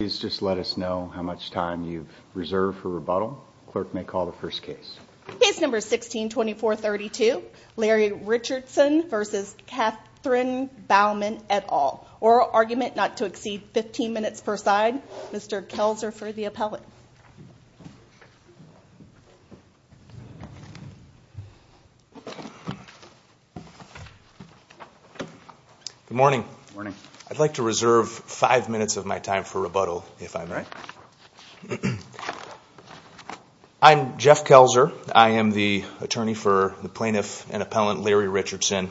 Please just let us know how much time you've reserved for rebuttal. Clerk may call the first case. Case number 16-2432, Larry Richardson v. Catherine Bauman et al. Oral argument not to exceed 15 minutes per side. Mr. Kelzer for the appellate. Good morning. I'd like to reserve five minutes of my time for rebuttal, if I may. I'm Jeff Kelzer. I am the attorney for the plaintiff and appellant, Larry Richardson.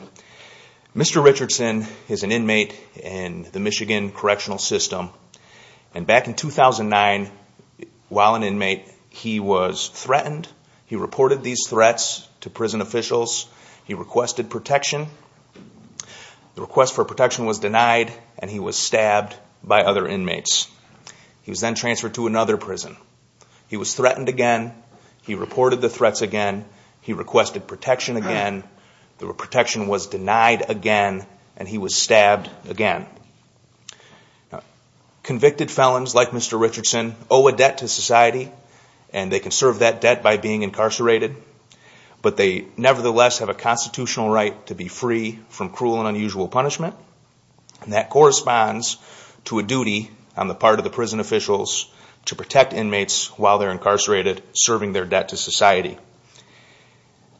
Mr. Richardson is an inmate in the Michigan correctional system. And back in 2009, while an inmate, he was threatened. He reported these threats to prison officials. He requested protection. The request for protection was denied, and he was stabbed by other inmates. He was then transferred to another prison. He was threatened again. He reported the threats again. He requested protection again. The protection was denied again. And he was stabbed again. Convicted felons like Mr. Richardson owe a debt to society. And they can serve that debt by being incarcerated. But they nevertheless have a constitutional right to be free from cruel and unusual punishment. And that corresponds to a duty on the part of the prison officials to protect inmates while they're incarcerated, serving their debt to society.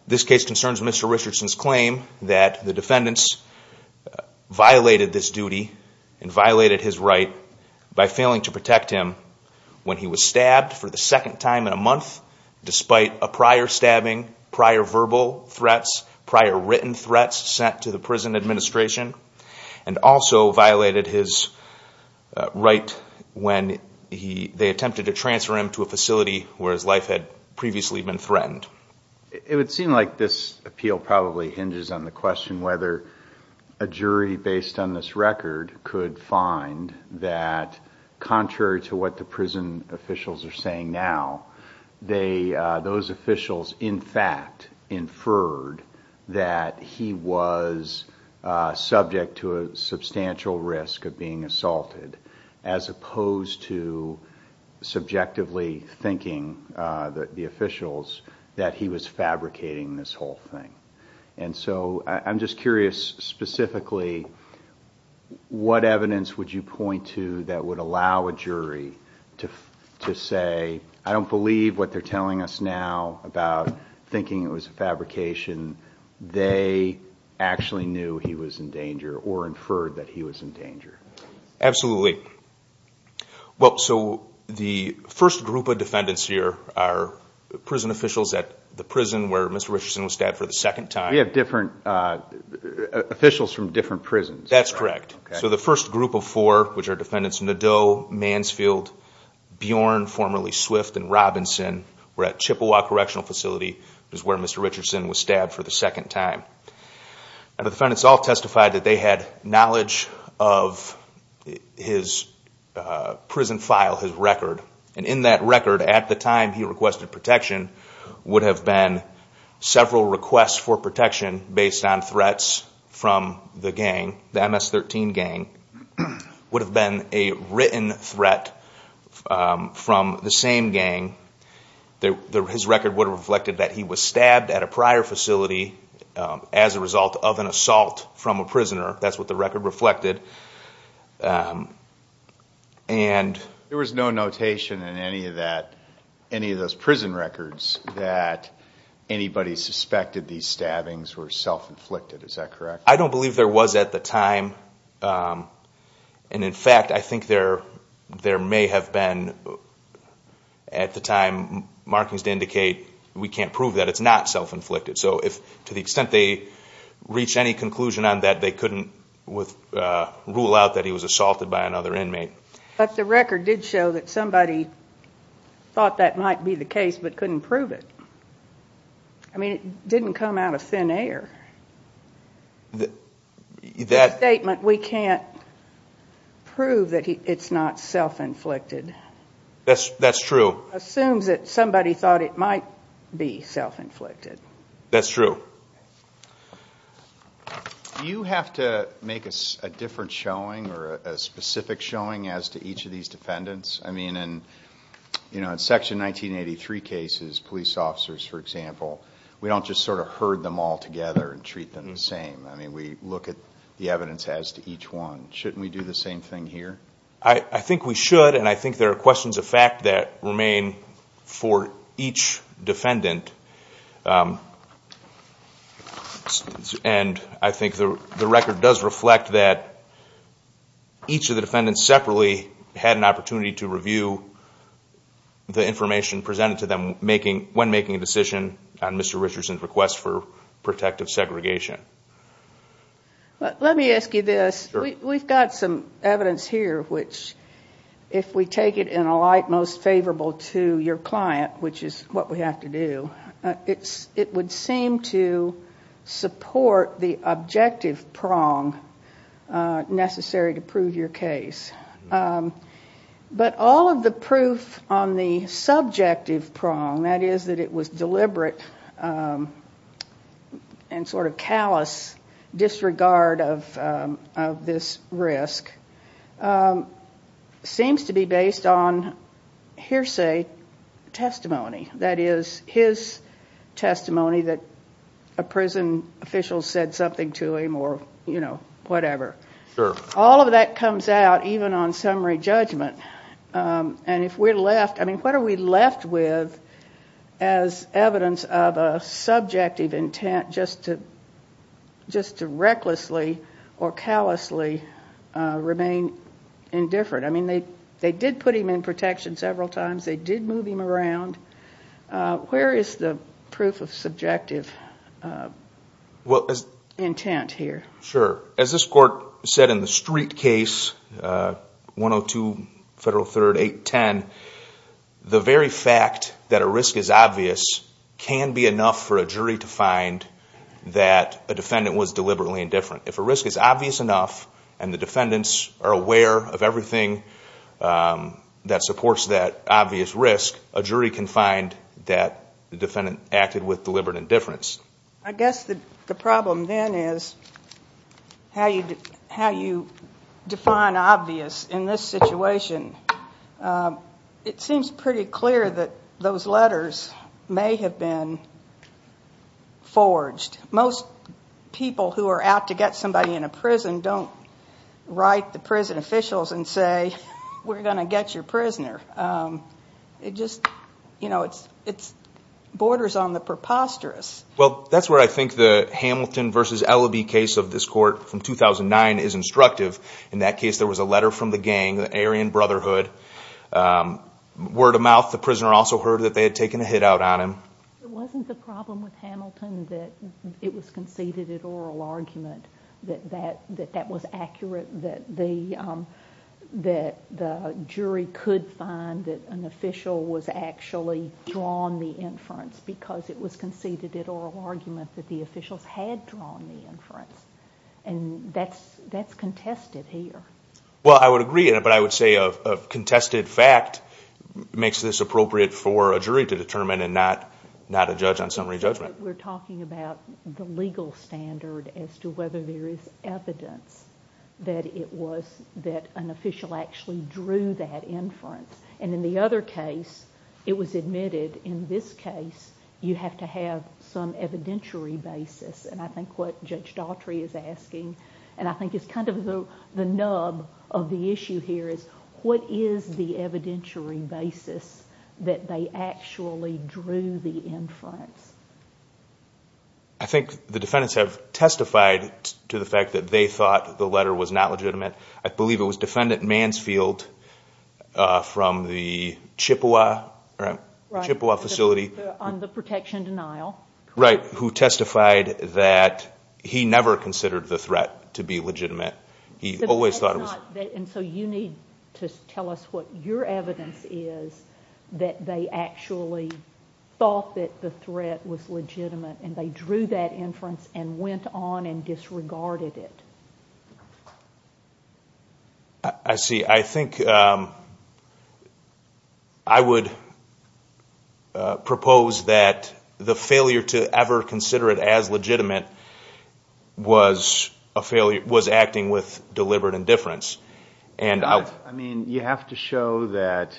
This case concerns Mr. Richardson's claim that the defendants violated this duty and violated his right by failing to protect him when he was stabbed for the second time in a month, despite a prior stabbing, prior verbal threats, prior written threats sent to the prison administration, and also violated his right when they attempted to transfer him to a facility where his life had previously been threatened. It would seem like this appeal probably hinges on the question whether a jury based on this record could find that, contrary to what the prison officials are saying now, those officials, in fact, inferred that he was subject to a substantial risk of being assaulted as opposed to subjectively thinking, the officials, that he was fabricating this whole thing. And so I'm just curious, specifically, what evidence would you point to that would allow a jury to say, I don't believe what they're telling us now about thinking it was a fabrication, they actually knew he was in danger or inferred that he was in danger? Absolutely. Well, so the first group of defendants here are prison officials at the prison where Mr. Richardson was stabbed for the second time. We have officials from different prisons. That's correct. So the first group of four, which are defendants Nadeau, Mansfield, Bjorn, formerly Swift, and Robinson, were at Chippewa Correctional Facility, which is where Mr. Richardson was stabbed for the second time. And the defendants all testified that they had knowledge of his prison file, his record. And in that record, at the time he requested protection, would have been several requests for protection based on threats from the gang. The MS-13 gang would have been a written threat from the same gang. His record would have reflected that he was stabbed at a prior facility as a result of an assault from a prisoner. That's what the record reflected. There was no notation in any of that, any of those prison records, that anybody suspected these stabbings were self-inflicted. Is that correct? I don't believe there was at the time. And in fact, I think there may have been at the time markings to indicate, we can't prove that it's not self-inflicted. So if, to the extent they reach any conclusion on that, they couldn't, with, rule out that he was assaulted by another inmate. But the record did show that somebody thought that might be the case, but couldn't prove it. I mean, it didn't come out of thin air. That statement, we can't prove that it's not self-inflicted. That's true. Assumes that somebody thought it might be self-inflicted. That's true. Do you have to make a different showing or a specific showing as to each of these defendants? I mean, in Section 1983 cases, police officers, for example, we don't just sort of herd them all together and treat them the same. I mean, we look at the evidence as to each one. Shouldn't we do the same thing here? I think we should. And I think there are questions of fact that remain for each defendant. And I think the record does reflect that each of the defendants separately had an opportunity to review the information presented to them when making a decision on Mr. Richardson's request for protective segregation. Let me ask you this. We've got some evidence here which, if we take it in a light most favorable to your client, which is what we have to do, it would seem to support the objective prong necessary to prove your case. But all of the proof on the subjective prong, that is, that it was deliberate and sort of callous disregard of this risk, seems to be based on hearsay testimony. That is, his testimony that a prison official said something to him or, you know, whatever. Sure. All of that comes out even on summary judgment. And if we're left, I mean, what are we left with as evidence of a subjective intent just to recklessly or callously remain indifferent? I mean, they did put him in protection several times. They did move him around. Where is the proof of subjective intent here? Sure. As this court said in the Street case, 102 Federal 3rd 810, the very fact that a risk is obvious can be enough for a jury to find that a defendant was deliberately indifferent. If a risk is obvious enough and the defendants are aware of everything that supports that obvious risk, a jury can find that the defendant acted with deliberate indifference. I guess the problem then is how you define obvious in this situation. It seems pretty clear that those letters may have been forged. Most people who are out to get somebody in a prison don't write the prison officials and say, we're going to get your prisoner. It just, you know, it's borders on the preposterous. That's where I think the Hamilton versus Elaby case of this court from 2009 is instructive. In that case, there was a letter from the gang, the Aryan Brotherhood. Word of mouth, the prisoner also heard that they had taken a hit out on him. It wasn't the problem with Hamilton that it was conceded at oral argument, that that was accurate, that the jury could find that an official was actually drawn the inference because it was conceded at oral argument that the officials had drawn the inference. And that's contested here. Well, I would agree, but I would say a contested fact makes this appropriate for a jury to determine and not a judge on summary judgment. We're talking about the legal standard as to whether there is evidence that it was that an official actually drew that inference. And in the other case, it was admitted in this case, you have to have some evidentiary basis. And I think what Judge Daughtry is asking, and I think it's kind of the nub of the issue here is what is the evidentiary basis that they actually drew the inference? I think the defendants have testified to the fact that they thought the letter was not legitimate. I believe it was Defendant Mansfield from the Chippewa facility. On the protection denial. Right. Who testified that he never considered the threat to be legitimate. He always thought it was... And so you need to tell us what your evidence is that they actually thought that the threat was legitimate and they drew that inference and went on and disregarded it. I see. I think I would propose that the failure to ever consider it as legitimate was acting with deliberate indifference. I mean, you have to show that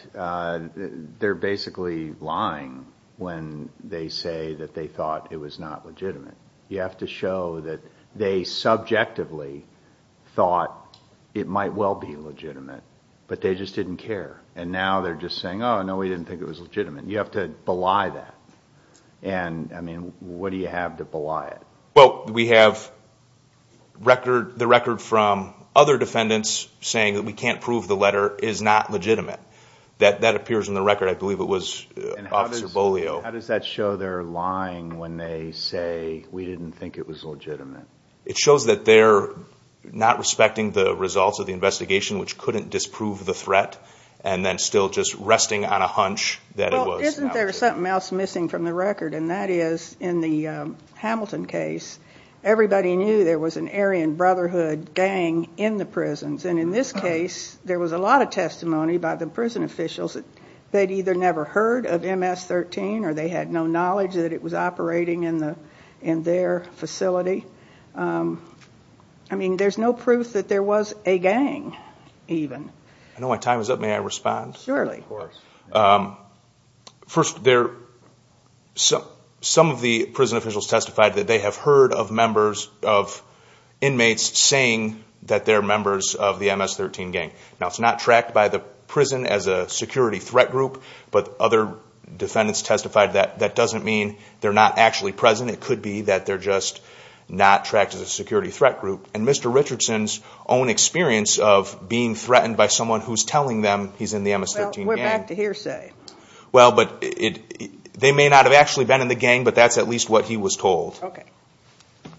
they're basically lying when they say that they thought it was not legitimate. You have to show that they subjectively thought it might well be legitimate, but they just didn't care. And now they're just saying, oh, no, we didn't think it was legitimate. You have to belie that. And I mean, what do you have to belie it? Well, we have the record from other defendants saying that we can't prove the letter is not legitimate. That appears in the record. I believe it was Officer Bolio. How does that show they're lying when they say we didn't think it was legitimate? It shows that they're not respecting the results of the investigation, which couldn't disprove the threat and then still just resting on a hunch that it was. Isn't there something else missing from the record? And that is in the Hamilton case, everybody knew there was an Aryan Brotherhood gang in the prisons. And in this case, there was a lot of testimony by the prison officials they'd either never heard of MS-13, or they had no knowledge that it was operating in their facility. I mean, there's no proof that there was a gang even. I know my time is up. May I respond? Surely. First, some of the prison officials testified that they have heard of members of inmates saying that they're members of the MS-13 gang. Now, it's not tracked by the prison as a security threat group, but other defendants testified that that doesn't mean they're not actually present. It could be that they're just not tracked as a security threat group. And Mr. Richardson's own experience of being threatened by someone who's telling them he's in the MS-13 gang. Well, we're back to hearsay. Well, but they may not have actually been in the gang, but that's at least what he was told. Okay.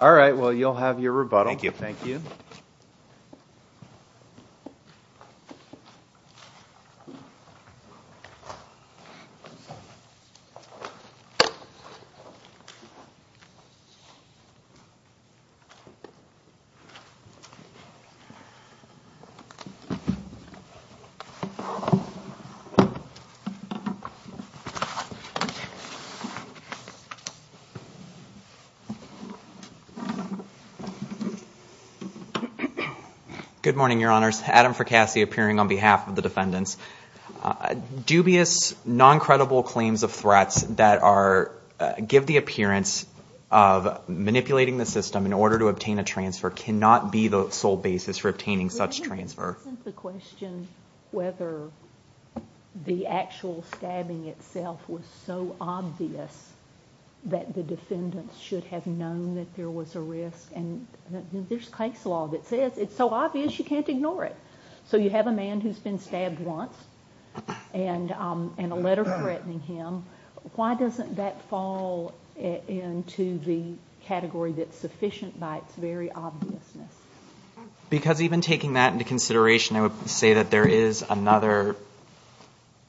All right. Well, you'll have your rebuttal. Thank you. Thank you. Okay. Good morning, Your Honors. Adam Fricasse, appearing on behalf of the defendants. Dubious, non-credible claims of threats that give the appearance of manipulating the system in order to obtain a transfer cannot be the sole basis for obtaining such transfer. But isn't the question whether the actual stabbing itself was so obvious that the defendants should have known that there was a risk? And there's case law that says it's so obvious you can't ignore it. So you have a man who's been stabbed once and a letter threatening him. Why doesn't that fall into the category that's sufficient by its very obviousness? Because even taking that into consideration, I would say that there is another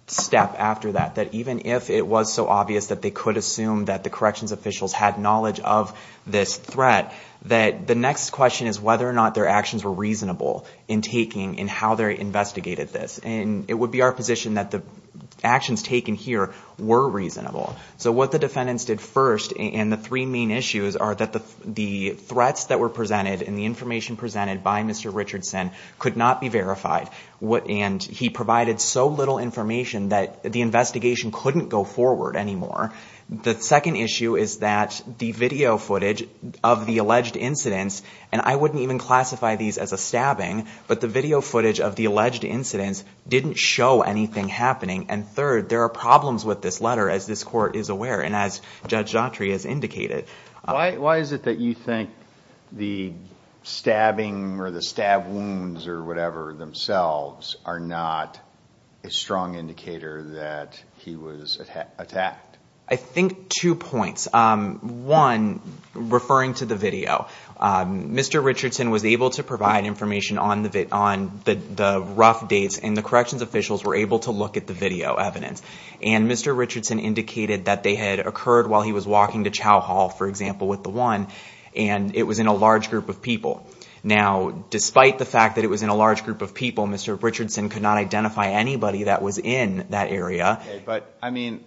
step after that, that even if it was so obvious that they could assume that the corrections officials had knowledge of this threat, that the next question is whether or not their actions were reasonable in taking and how they investigated this. And it would be our position that the actions taken here were reasonable. So what the defendants did first, and the three main issues are that the threats that were presented and the information presented by Mr. Richardson could not be verified. And he provided so little information that the investigation couldn't go forward anymore. The second issue is that the video footage of the alleged incidents, and I wouldn't even classify these as a stabbing, but the video footage of the alleged incidents didn't show anything happening. And third, there are problems with this letter, as this court is aware and as Judge Dautry has indicated. Why is it that you think the stabbing or the stab wounds or whatever themselves are not a strong indicator that he was attacked? I think two points. One, referring to the video, Mr. Richardson was able to provide information on the rough dates and the corrections officials were able to look at the video evidence. And Mr. Richardson indicated that they had occurred while he was walking to Chow Hall, for example, with the one, and it was in a large group of people. Now, despite the fact that it was in a large group of people, Mr. Richardson could not identify anybody that was in that area. But, I mean,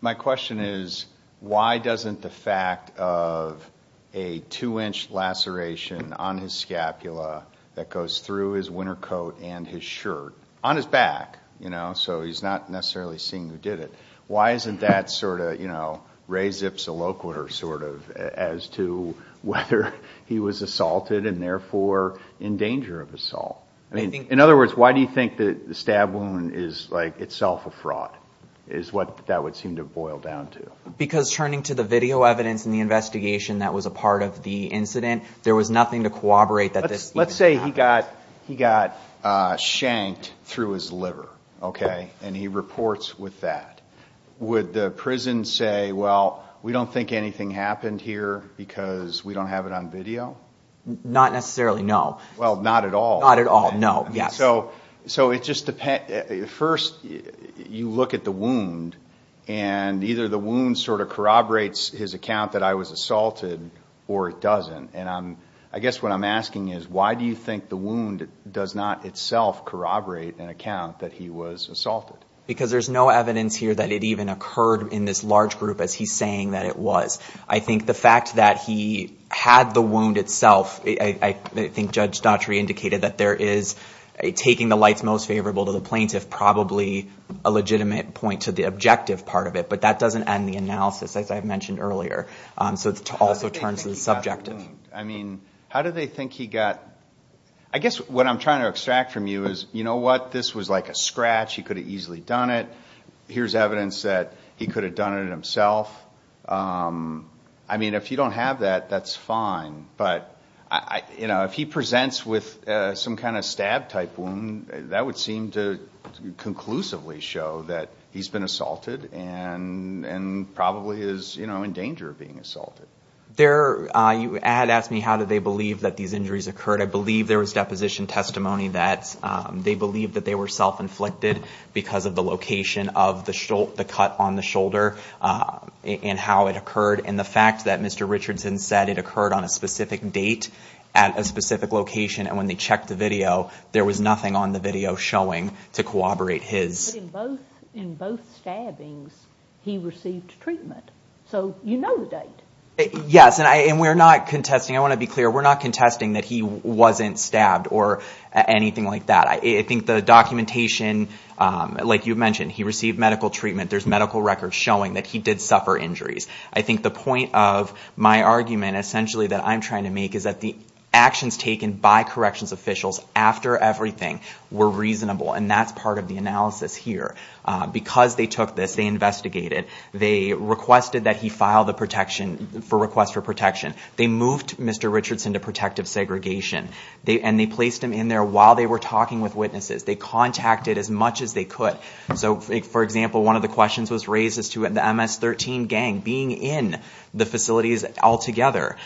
my question is, why doesn't the fact of a two-inch laceration on his scapula that goes through his winter coat and his shirt, on his back, you know, so he's not necessarily seeing who did it, why isn't that sort of, you know, res ipsa loquitur sort of as to whether he was assaulted and therefore in danger of assault? I mean, in other words, why do you think that the stab wound is like itself a fraud? Is what that would seem to boil down to. Because turning to the video evidence in the investigation that was a part of the incident, there was nothing to corroborate that this even happened. Let's say he got shanked through his liver, okay, and he reports with that. Would the prison say, well, we don't think anything happened here because we don't have it on video? Not necessarily, no. Well, not at all. Not at all, no, yes. So it just depends, first you look at the wound and either the wound sort of corroborates his account that I was assaulted or it doesn't. And I guess what I'm asking is why do you think the wound does not itself corroborate an account that he was assaulted? Because there's no evidence here that it even occurred in this large group as he's saying that it was. I think the fact that he had the wound itself, I think Judge Daughtry indicated that there is taking the lights most favorable to the plaintiff, probably a legitimate point to the objective part of it. But that doesn't end the analysis, as I mentioned earlier. So it also turns to the subjective. I mean, how do they think he got... I guess what I'm trying to extract from you is, you know what, this was like a scratch. He could have easily done it. Here's evidence that he could have done it himself. I mean, if you don't have that, that's fine. But, you know, if he presents with some kind of stab-type wound, that would seem to conclusively show that he's been assaulted and probably is, you know, in danger of being assaulted. There, you had asked me how do they believe that these injuries occurred. I believe there was deposition testimony that they believe that they were self-inflicted because of the location of the cut on the shoulder and how it occurred. And the fact that Mr. Richardson said it occurred on a specific date at a specific location and when they checked the video, there was nothing on the video showing to corroborate his... But in both stabbings, he received treatment. So you know the date. Yes, and we're not contesting. I want to be clear. We're not contesting that he wasn't stabbed or anything like that. I think the documentation, like you mentioned, he received medical treatment. There's medical records showing that he did suffer injuries. I think the point of my argument essentially that I'm trying to make is that the actions taken by corrections officials after everything were reasonable. And that's part of the analysis here. Because they took this, they investigated. They requested that he file the protection for request for protection. They moved Mr. Richardson to protective segregation. And they placed him in there while they were talking with witnesses. They contacted as much as they could. So for example, one of the questions was raised as to the MS-13 gang being in the facilities altogether.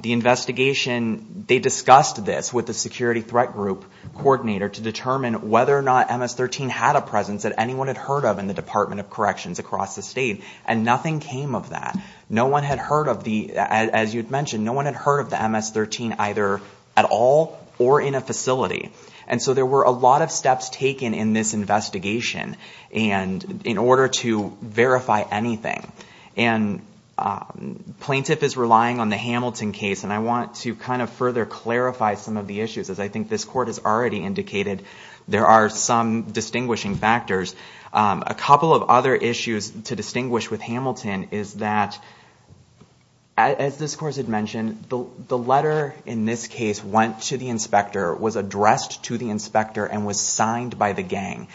The investigation, they discussed this with the security threat group coordinator to determine whether or not MS-13 had a presence that anyone had heard of in the Department of Corrections across the state. And nothing came of that. No one had heard of the, as you'd mentioned, no one had heard of the MS-13 either at all or in a facility. And so there were a lot of steps taken in this investigation and in order to verify anything. And plaintiff is relying on the Hamilton case. And I want to kind of further clarify some of the issues. As I think this court has already indicated, there are some distinguishing factors. A couple of other issues to distinguish with Hamilton is that, as this court had mentioned, the letter in this case went to the inspector, was addressed to the inspector, and was signed by the gang.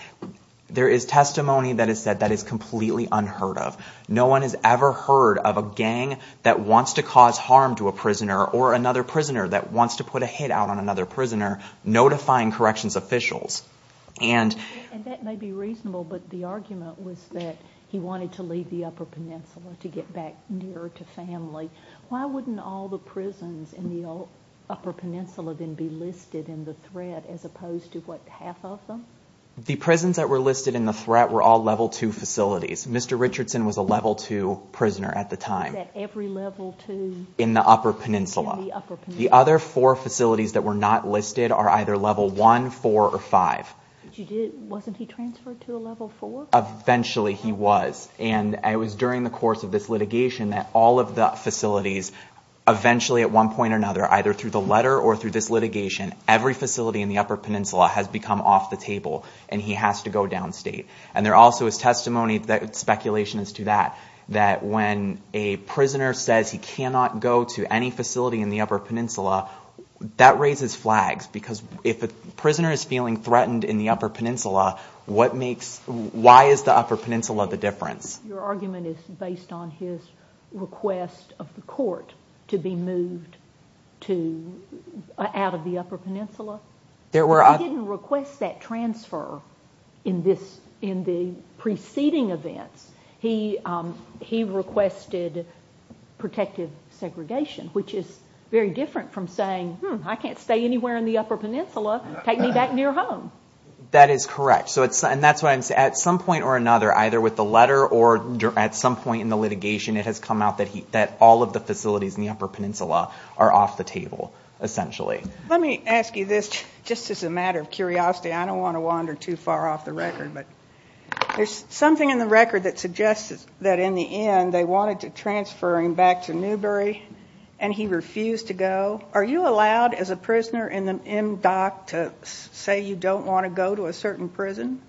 There is testimony that is said that is completely unheard of. No one has ever heard of a gang that wants to cause harm to a prisoner or another prisoner that wants to put a hit out on another prisoner notifying corrections officials. And that may be reasonable, but the argument was that he wanted to leave the Upper Peninsula to get back nearer to family. Why wouldn't all the prisons in the Upper Peninsula then be listed in the threat as opposed to, what, half of them? The prisons that were listed in the threat were all Level 2 facilities. Mr. Richardson was a Level 2 prisoner at the time. Was that every Level 2? In the Upper Peninsula. The other four facilities that were not listed are either Level 1, 4, or 5. Wasn't he transferred to a Level 4? Eventually he was. And it was during the course of this litigation that all of the facilities, eventually at one point or another, either through the letter or through this litigation, every facility in the Upper Peninsula has become off the table and he has to go downstate. And there also is testimony, speculation as to that, that when a prisoner says he cannot go to any facility in the Upper Peninsula, that raises flags. Because if a prisoner is feeling threatened in the Upper Peninsula, why is the Upper Peninsula the difference? Your argument is based on his request of the court to be moved out of the Upper Peninsula? He didn't request that transfer in the preceding events. He requested protective segregation, which is very different from saying, I can't stay anywhere in the Upper Peninsula. Take me back near home. That is correct. And that's what I'm saying. At some point or another, either with the letter or at some point in the litigation, it has come out that all of the facilities in the Upper Peninsula are off the table, essentially. Let me ask you this, just as a matter of curiosity. I don't want to wander too far off the record, but there's something in the record that suggests that in the end they wanted to transfer him back to Newbury and he refused to go. Are you allowed as a prisoner in the MDOC to say you don't want to go to a certain prison?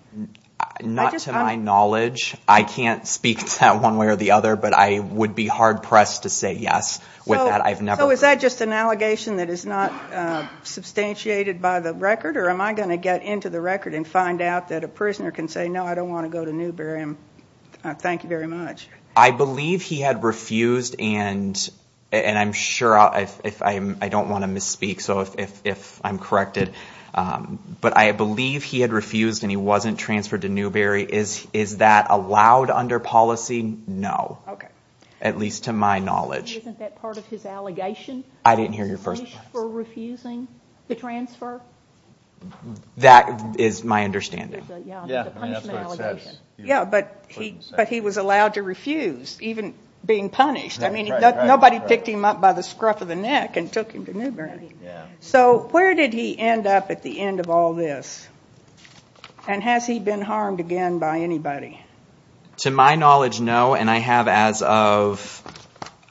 Not to my knowledge. I can't speak to that one way or the other, but I would be hard pressed to say yes. So is that just an allegation that is not substantiated by the record? Or am I going to get into the record and find out that a prisoner can say, no, I don't want to go to Newbury. Thank you very much. I believe he had refused, and I'm sure, I don't want to misspeak, so if I'm corrected, but I believe he had refused and he wasn't transferred to Newbury. Is that allowed under policy? No. At least to my knowledge. Isn't that part of his allegation? I didn't hear your first part. For refusing to transfer? That is my understanding. That's what it says. Yeah, but he was allowed to refuse, even being punished. I mean, nobody picked him up by the scruff of the neck and took him to Newbury. So where did he end up at the end of all this? And has he been harmed again by anybody? To my knowledge, no. And I have as of,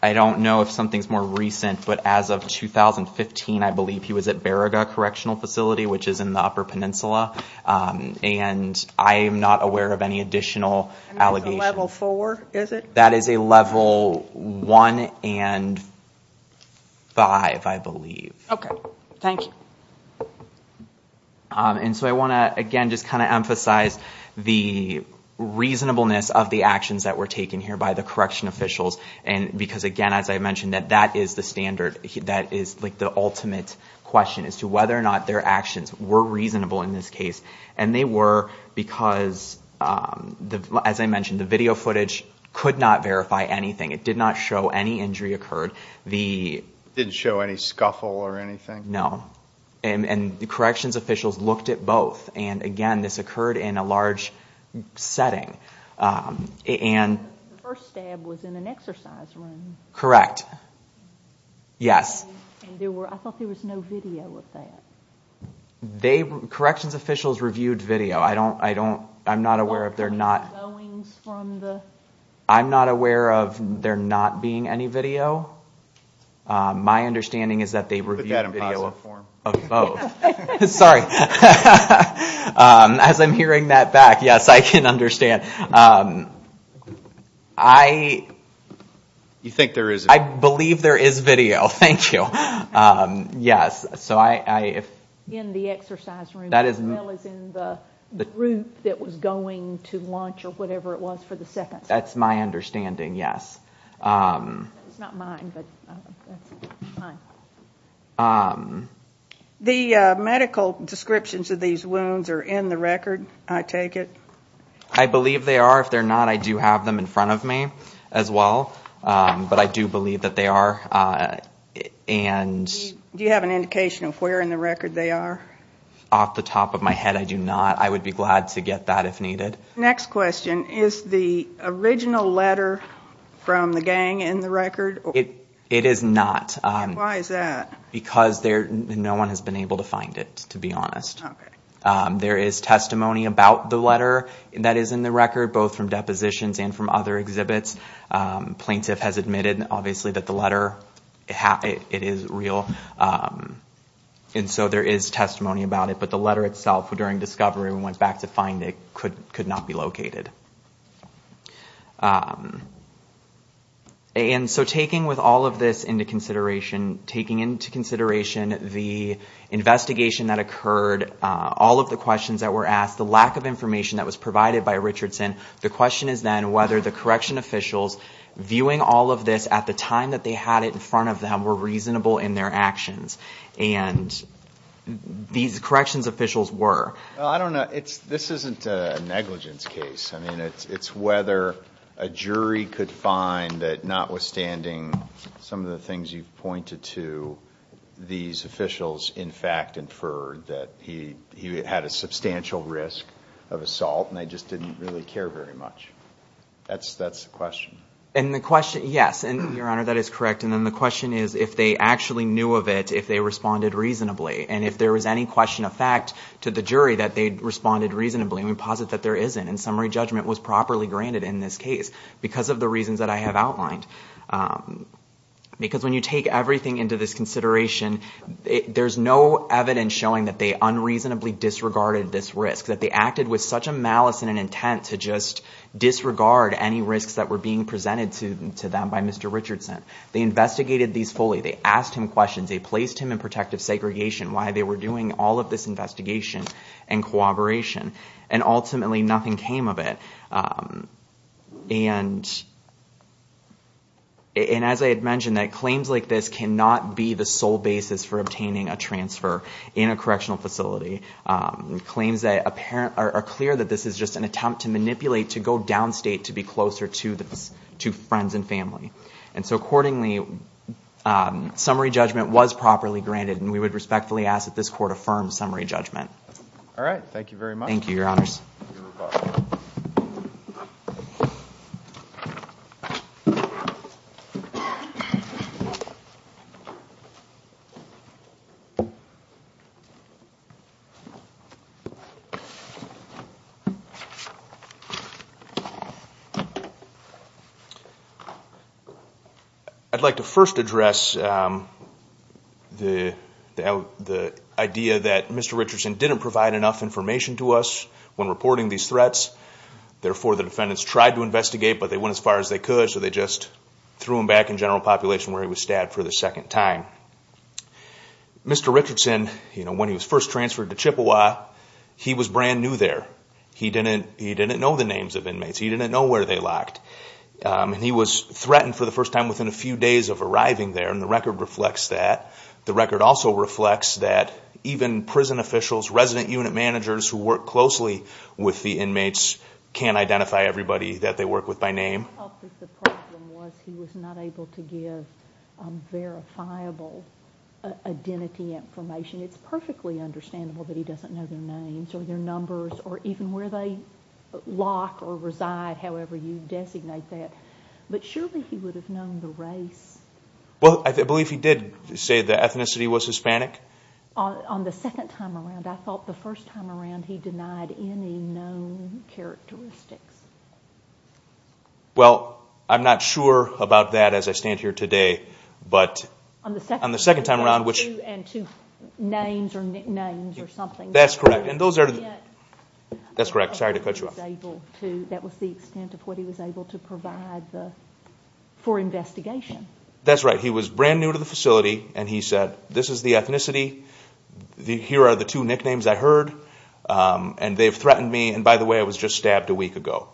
I don't know if something's more recent, but as of 2015, I believe he was at Baraga Correctional Facility, which is in the Upper Peninsula. And I am not aware of any additional allegations. And that's a level four, is it? That is a level one and five, I believe. Okay, thank you. And so I want to, again, just kind of emphasize the reasonableness of the actions that were taken here by the correction officials, because again, as I mentioned, that is the standard, that is like the ultimate question as to whether or not their actions were reasonable in this case. And they were because, as I mentioned, the video footage could not verify anything. It did not show any injury occurred. It didn't show any scuffle or anything? No. And the corrections officials looked at both. And again, this occurred in a large setting. And the first stab was in an exercise room. Correct. Yes. And I thought there was no video of that. They, corrections officials reviewed video. I don't, I don't, I'm not aware if they're not. I'm not aware of there not being any video. My understanding is that they reviewed video of both. Sorry. As I'm hearing that back, yes, I can understand. I. You think there is? I believe there is video. Thank you. Yes. So I, I, if. In the exercise room. That is. Mel is in the group that was going to lunch or whatever it was for the second. That's my understanding. Yes. It's not mine, but that's mine. The medical descriptions of these wounds are in the record. I take it. I believe they are. If they're not, I do have them in front of me as well. But I do believe that they are. And. Do you have an indication of where in the record they are? Off the top of my head, I do not. I would be glad to get that if needed. Next question. Is the original letter from the gang in the record? It is not. Why is that? Because there, no one has been able to find it, to be honest. There is testimony about the letter that is in the record, both from depositions and from other exhibits. Plaintiff has admitted, obviously, that the letter, it is real. And so there is testimony about it. But the letter itself, during discovery, we went back to find it, could not be located. And so taking with all of this into consideration, taking into consideration the investigation that occurred, all of the questions that were asked, the lack of information that was provided by Richardson. The question is then whether the correction officials, viewing all of this at the time that they had it in front of them, were reasonable in their actions. And these corrections officials were. This isn't a negligence case. I mean, it's whether a jury could find that notwithstanding some of the things you've pointed to, these officials, in fact, inferred that he had a substantial risk of assault. And they just didn't really care very much. That's the question. And the question, yes. And, Your Honor, that is correct. And then the question is if they actually knew of it, if they responded reasonably. And if there was any question of fact to the jury that they responded reasonably, we posit that there isn't. And summary judgment was properly granted in this case because of the reasons that I have outlined. Because when you take everything into this consideration, there's no evidence showing that they unreasonably disregarded this risk. That they acted with such a malice and an intent to just disregard any risks that were being presented to them by Mr. Richardson. They investigated these fully. They asked him questions. They placed him in protective segregation while they were doing all of this investigation and cooperation. And ultimately, nothing came of it. And as I had mentioned, that claims like this cannot be the sole basis for obtaining a transfer in a correctional facility. Claims that are clear that this is just an attempt to manipulate, to go downstate, to be closer to friends and family. And so accordingly, summary judgment was properly granted. And we would respectfully ask that this court affirm summary judgment. All right. Thank you very much. Thank you, Your Honors. I'd like to first address the idea that Mr. Richardson didn't provide enough information to us when reporting these threats. Therefore, the defendants tried to investigate, but they went as far as they could. So they just threw him back in general population where he was stabbed for the second time. Mr. Richardson, when he was first transferred to Chippewa, he was brand new there. He didn't know the names of inmates. He didn't know where they locked. And he was threatened for the first time within a few days of arriving there. And the record reflects that. The record also reflects that even prison officials, resident unit managers who work closely with the inmates can't identify everybody that they work with by name. The problem was he was not able to give verifiable identity information. It's perfectly understandable that he doesn't know their names or their numbers or even where they lock or reside, however you designate that. But surely he would have known the race. Well, I believe he did say the ethnicity was Hispanic. On the second time around, I thought the first time around he denied any known characteristics. Well, I'm not sure about that as I stand here today, but on the second time around, which names or nicknames or something. That's correct. And those are, that's correct. Sorry to cut you off. He was able to, that was the extent of what he was able to provide for investigation. That's right. He was brand new to the facility and he said, this is the ethnicity. Here are the two nicknames I heard and they've threatened me. And by the way, I was just stabbed a week ago.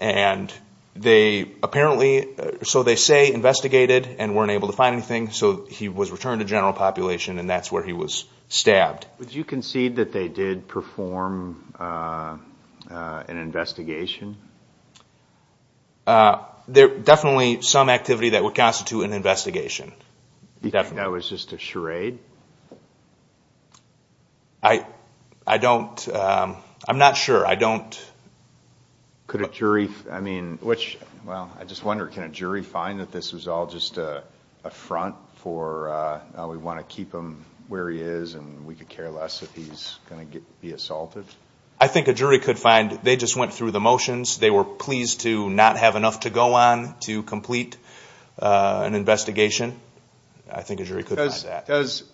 And they apparently, so they say investigated and weren't able to find anything. So he was returned to general population and that's where he was stabbed. Would you concede that they did perform an investigation? There definitely some activity that would constitute an investigation. That was just a charade? I, I don't, I'm not sure. I don't. Could a jury, I mean, which, well, I just wonder, can a jury find that this was all just a front for, we want to keep him where he is and we could care less if he's going to be assaulted? I think a jury could find they just went through the motions. They were pleased to not have enough to go on to complete an investigation. I think a jury could find that. Does,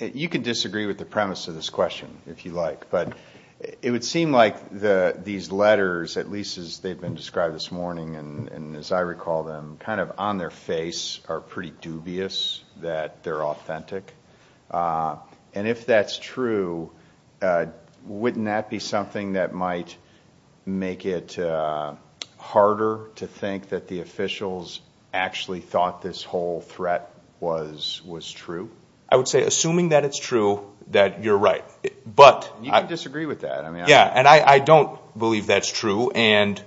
you can disagree with the premise of this question if you like, but it would seem like these letters, at least as they've been described this morning, and as I recall them, kind of on their face are pretty dubious that they're authentic. And if that's true, wouldn't that be something that might make it harder to think that the officials actually thought this whole threat was, was true? I would say, assuming that it's true, that you're right, but. You can disagree with that. Yeah. And I don't believe that's true. And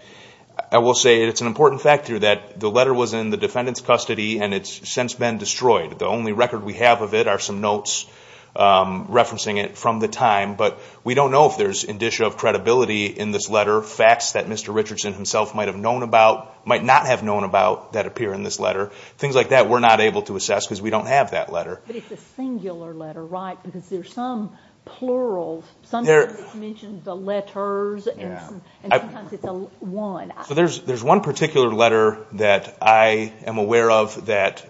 I will say it's an important fact here that the letter was in the defendant's custody and it's since been destroyed. The only record we have of it are some notes referencing it from the time, but we don't know if there's indicia of credibility in this letter, facts that Mr. Richardson himself might have known about, might not have known about that appear in this letter, things like that we're not able to assess because we don't have that letter. But it's a singular letter, right? Because there's some plurals, some mention the letters, and sometimes it's a one. So there's one particular letter that I am aware of that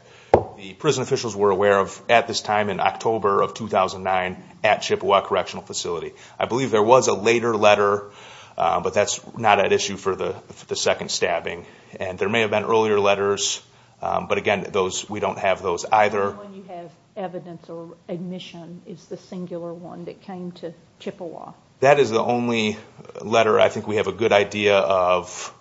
the prison officials were aware of at this time in October of 2009 at Chippewa Correctional Facility. I believe there was a later letter, but that's not at issue for the second stabbing. And there may have been earlier letters, but again, those, we don't have those either. When you have evidence or admission, is the singular one that came to Chippewa? That is the only letter I think we have a good idea of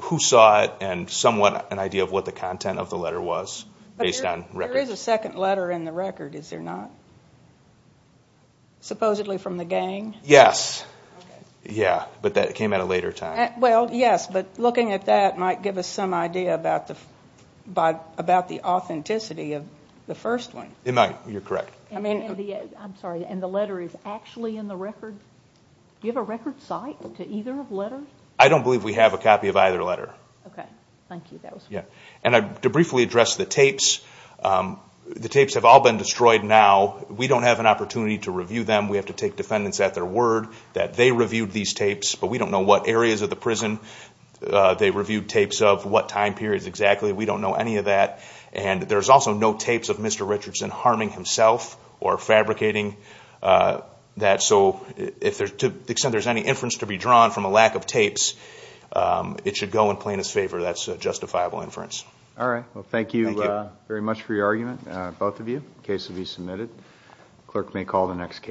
who saw it and somewhat an idea of what the content of the letter was based on records. There is a second letter in the record, is there not? Supposedly from the gang? Yes. Yeah, but that came at a later time. Well, yes. But looking at that might give us some idea about the authenticity of the first one. It might. You're correct. I'm sorry, and the letter is actually in the record? Do you have a record site to either of the letters? I don't believe we have a copy of either letter. Okay. Thank you, that was great. And to briefly address the tapes, the tapes have all been destroyed now. We don't have an opportunity to review them. We have to take defendants at their word that they reviewed these tapes, but we don't know what areas of the prison they reviewed tapes of, what time periods exactly. We don't know any of that. And there's also no tapes of Mr. Richardson harming himself or fabricating that. So to the extent there's any inference to be drawn from a lack of tapes, it should go in plaintiff's favor. That's a justifiable inference. All right. Well, thank you very much for your argument, both of you. The case will be submitted. Clerk may call the next case.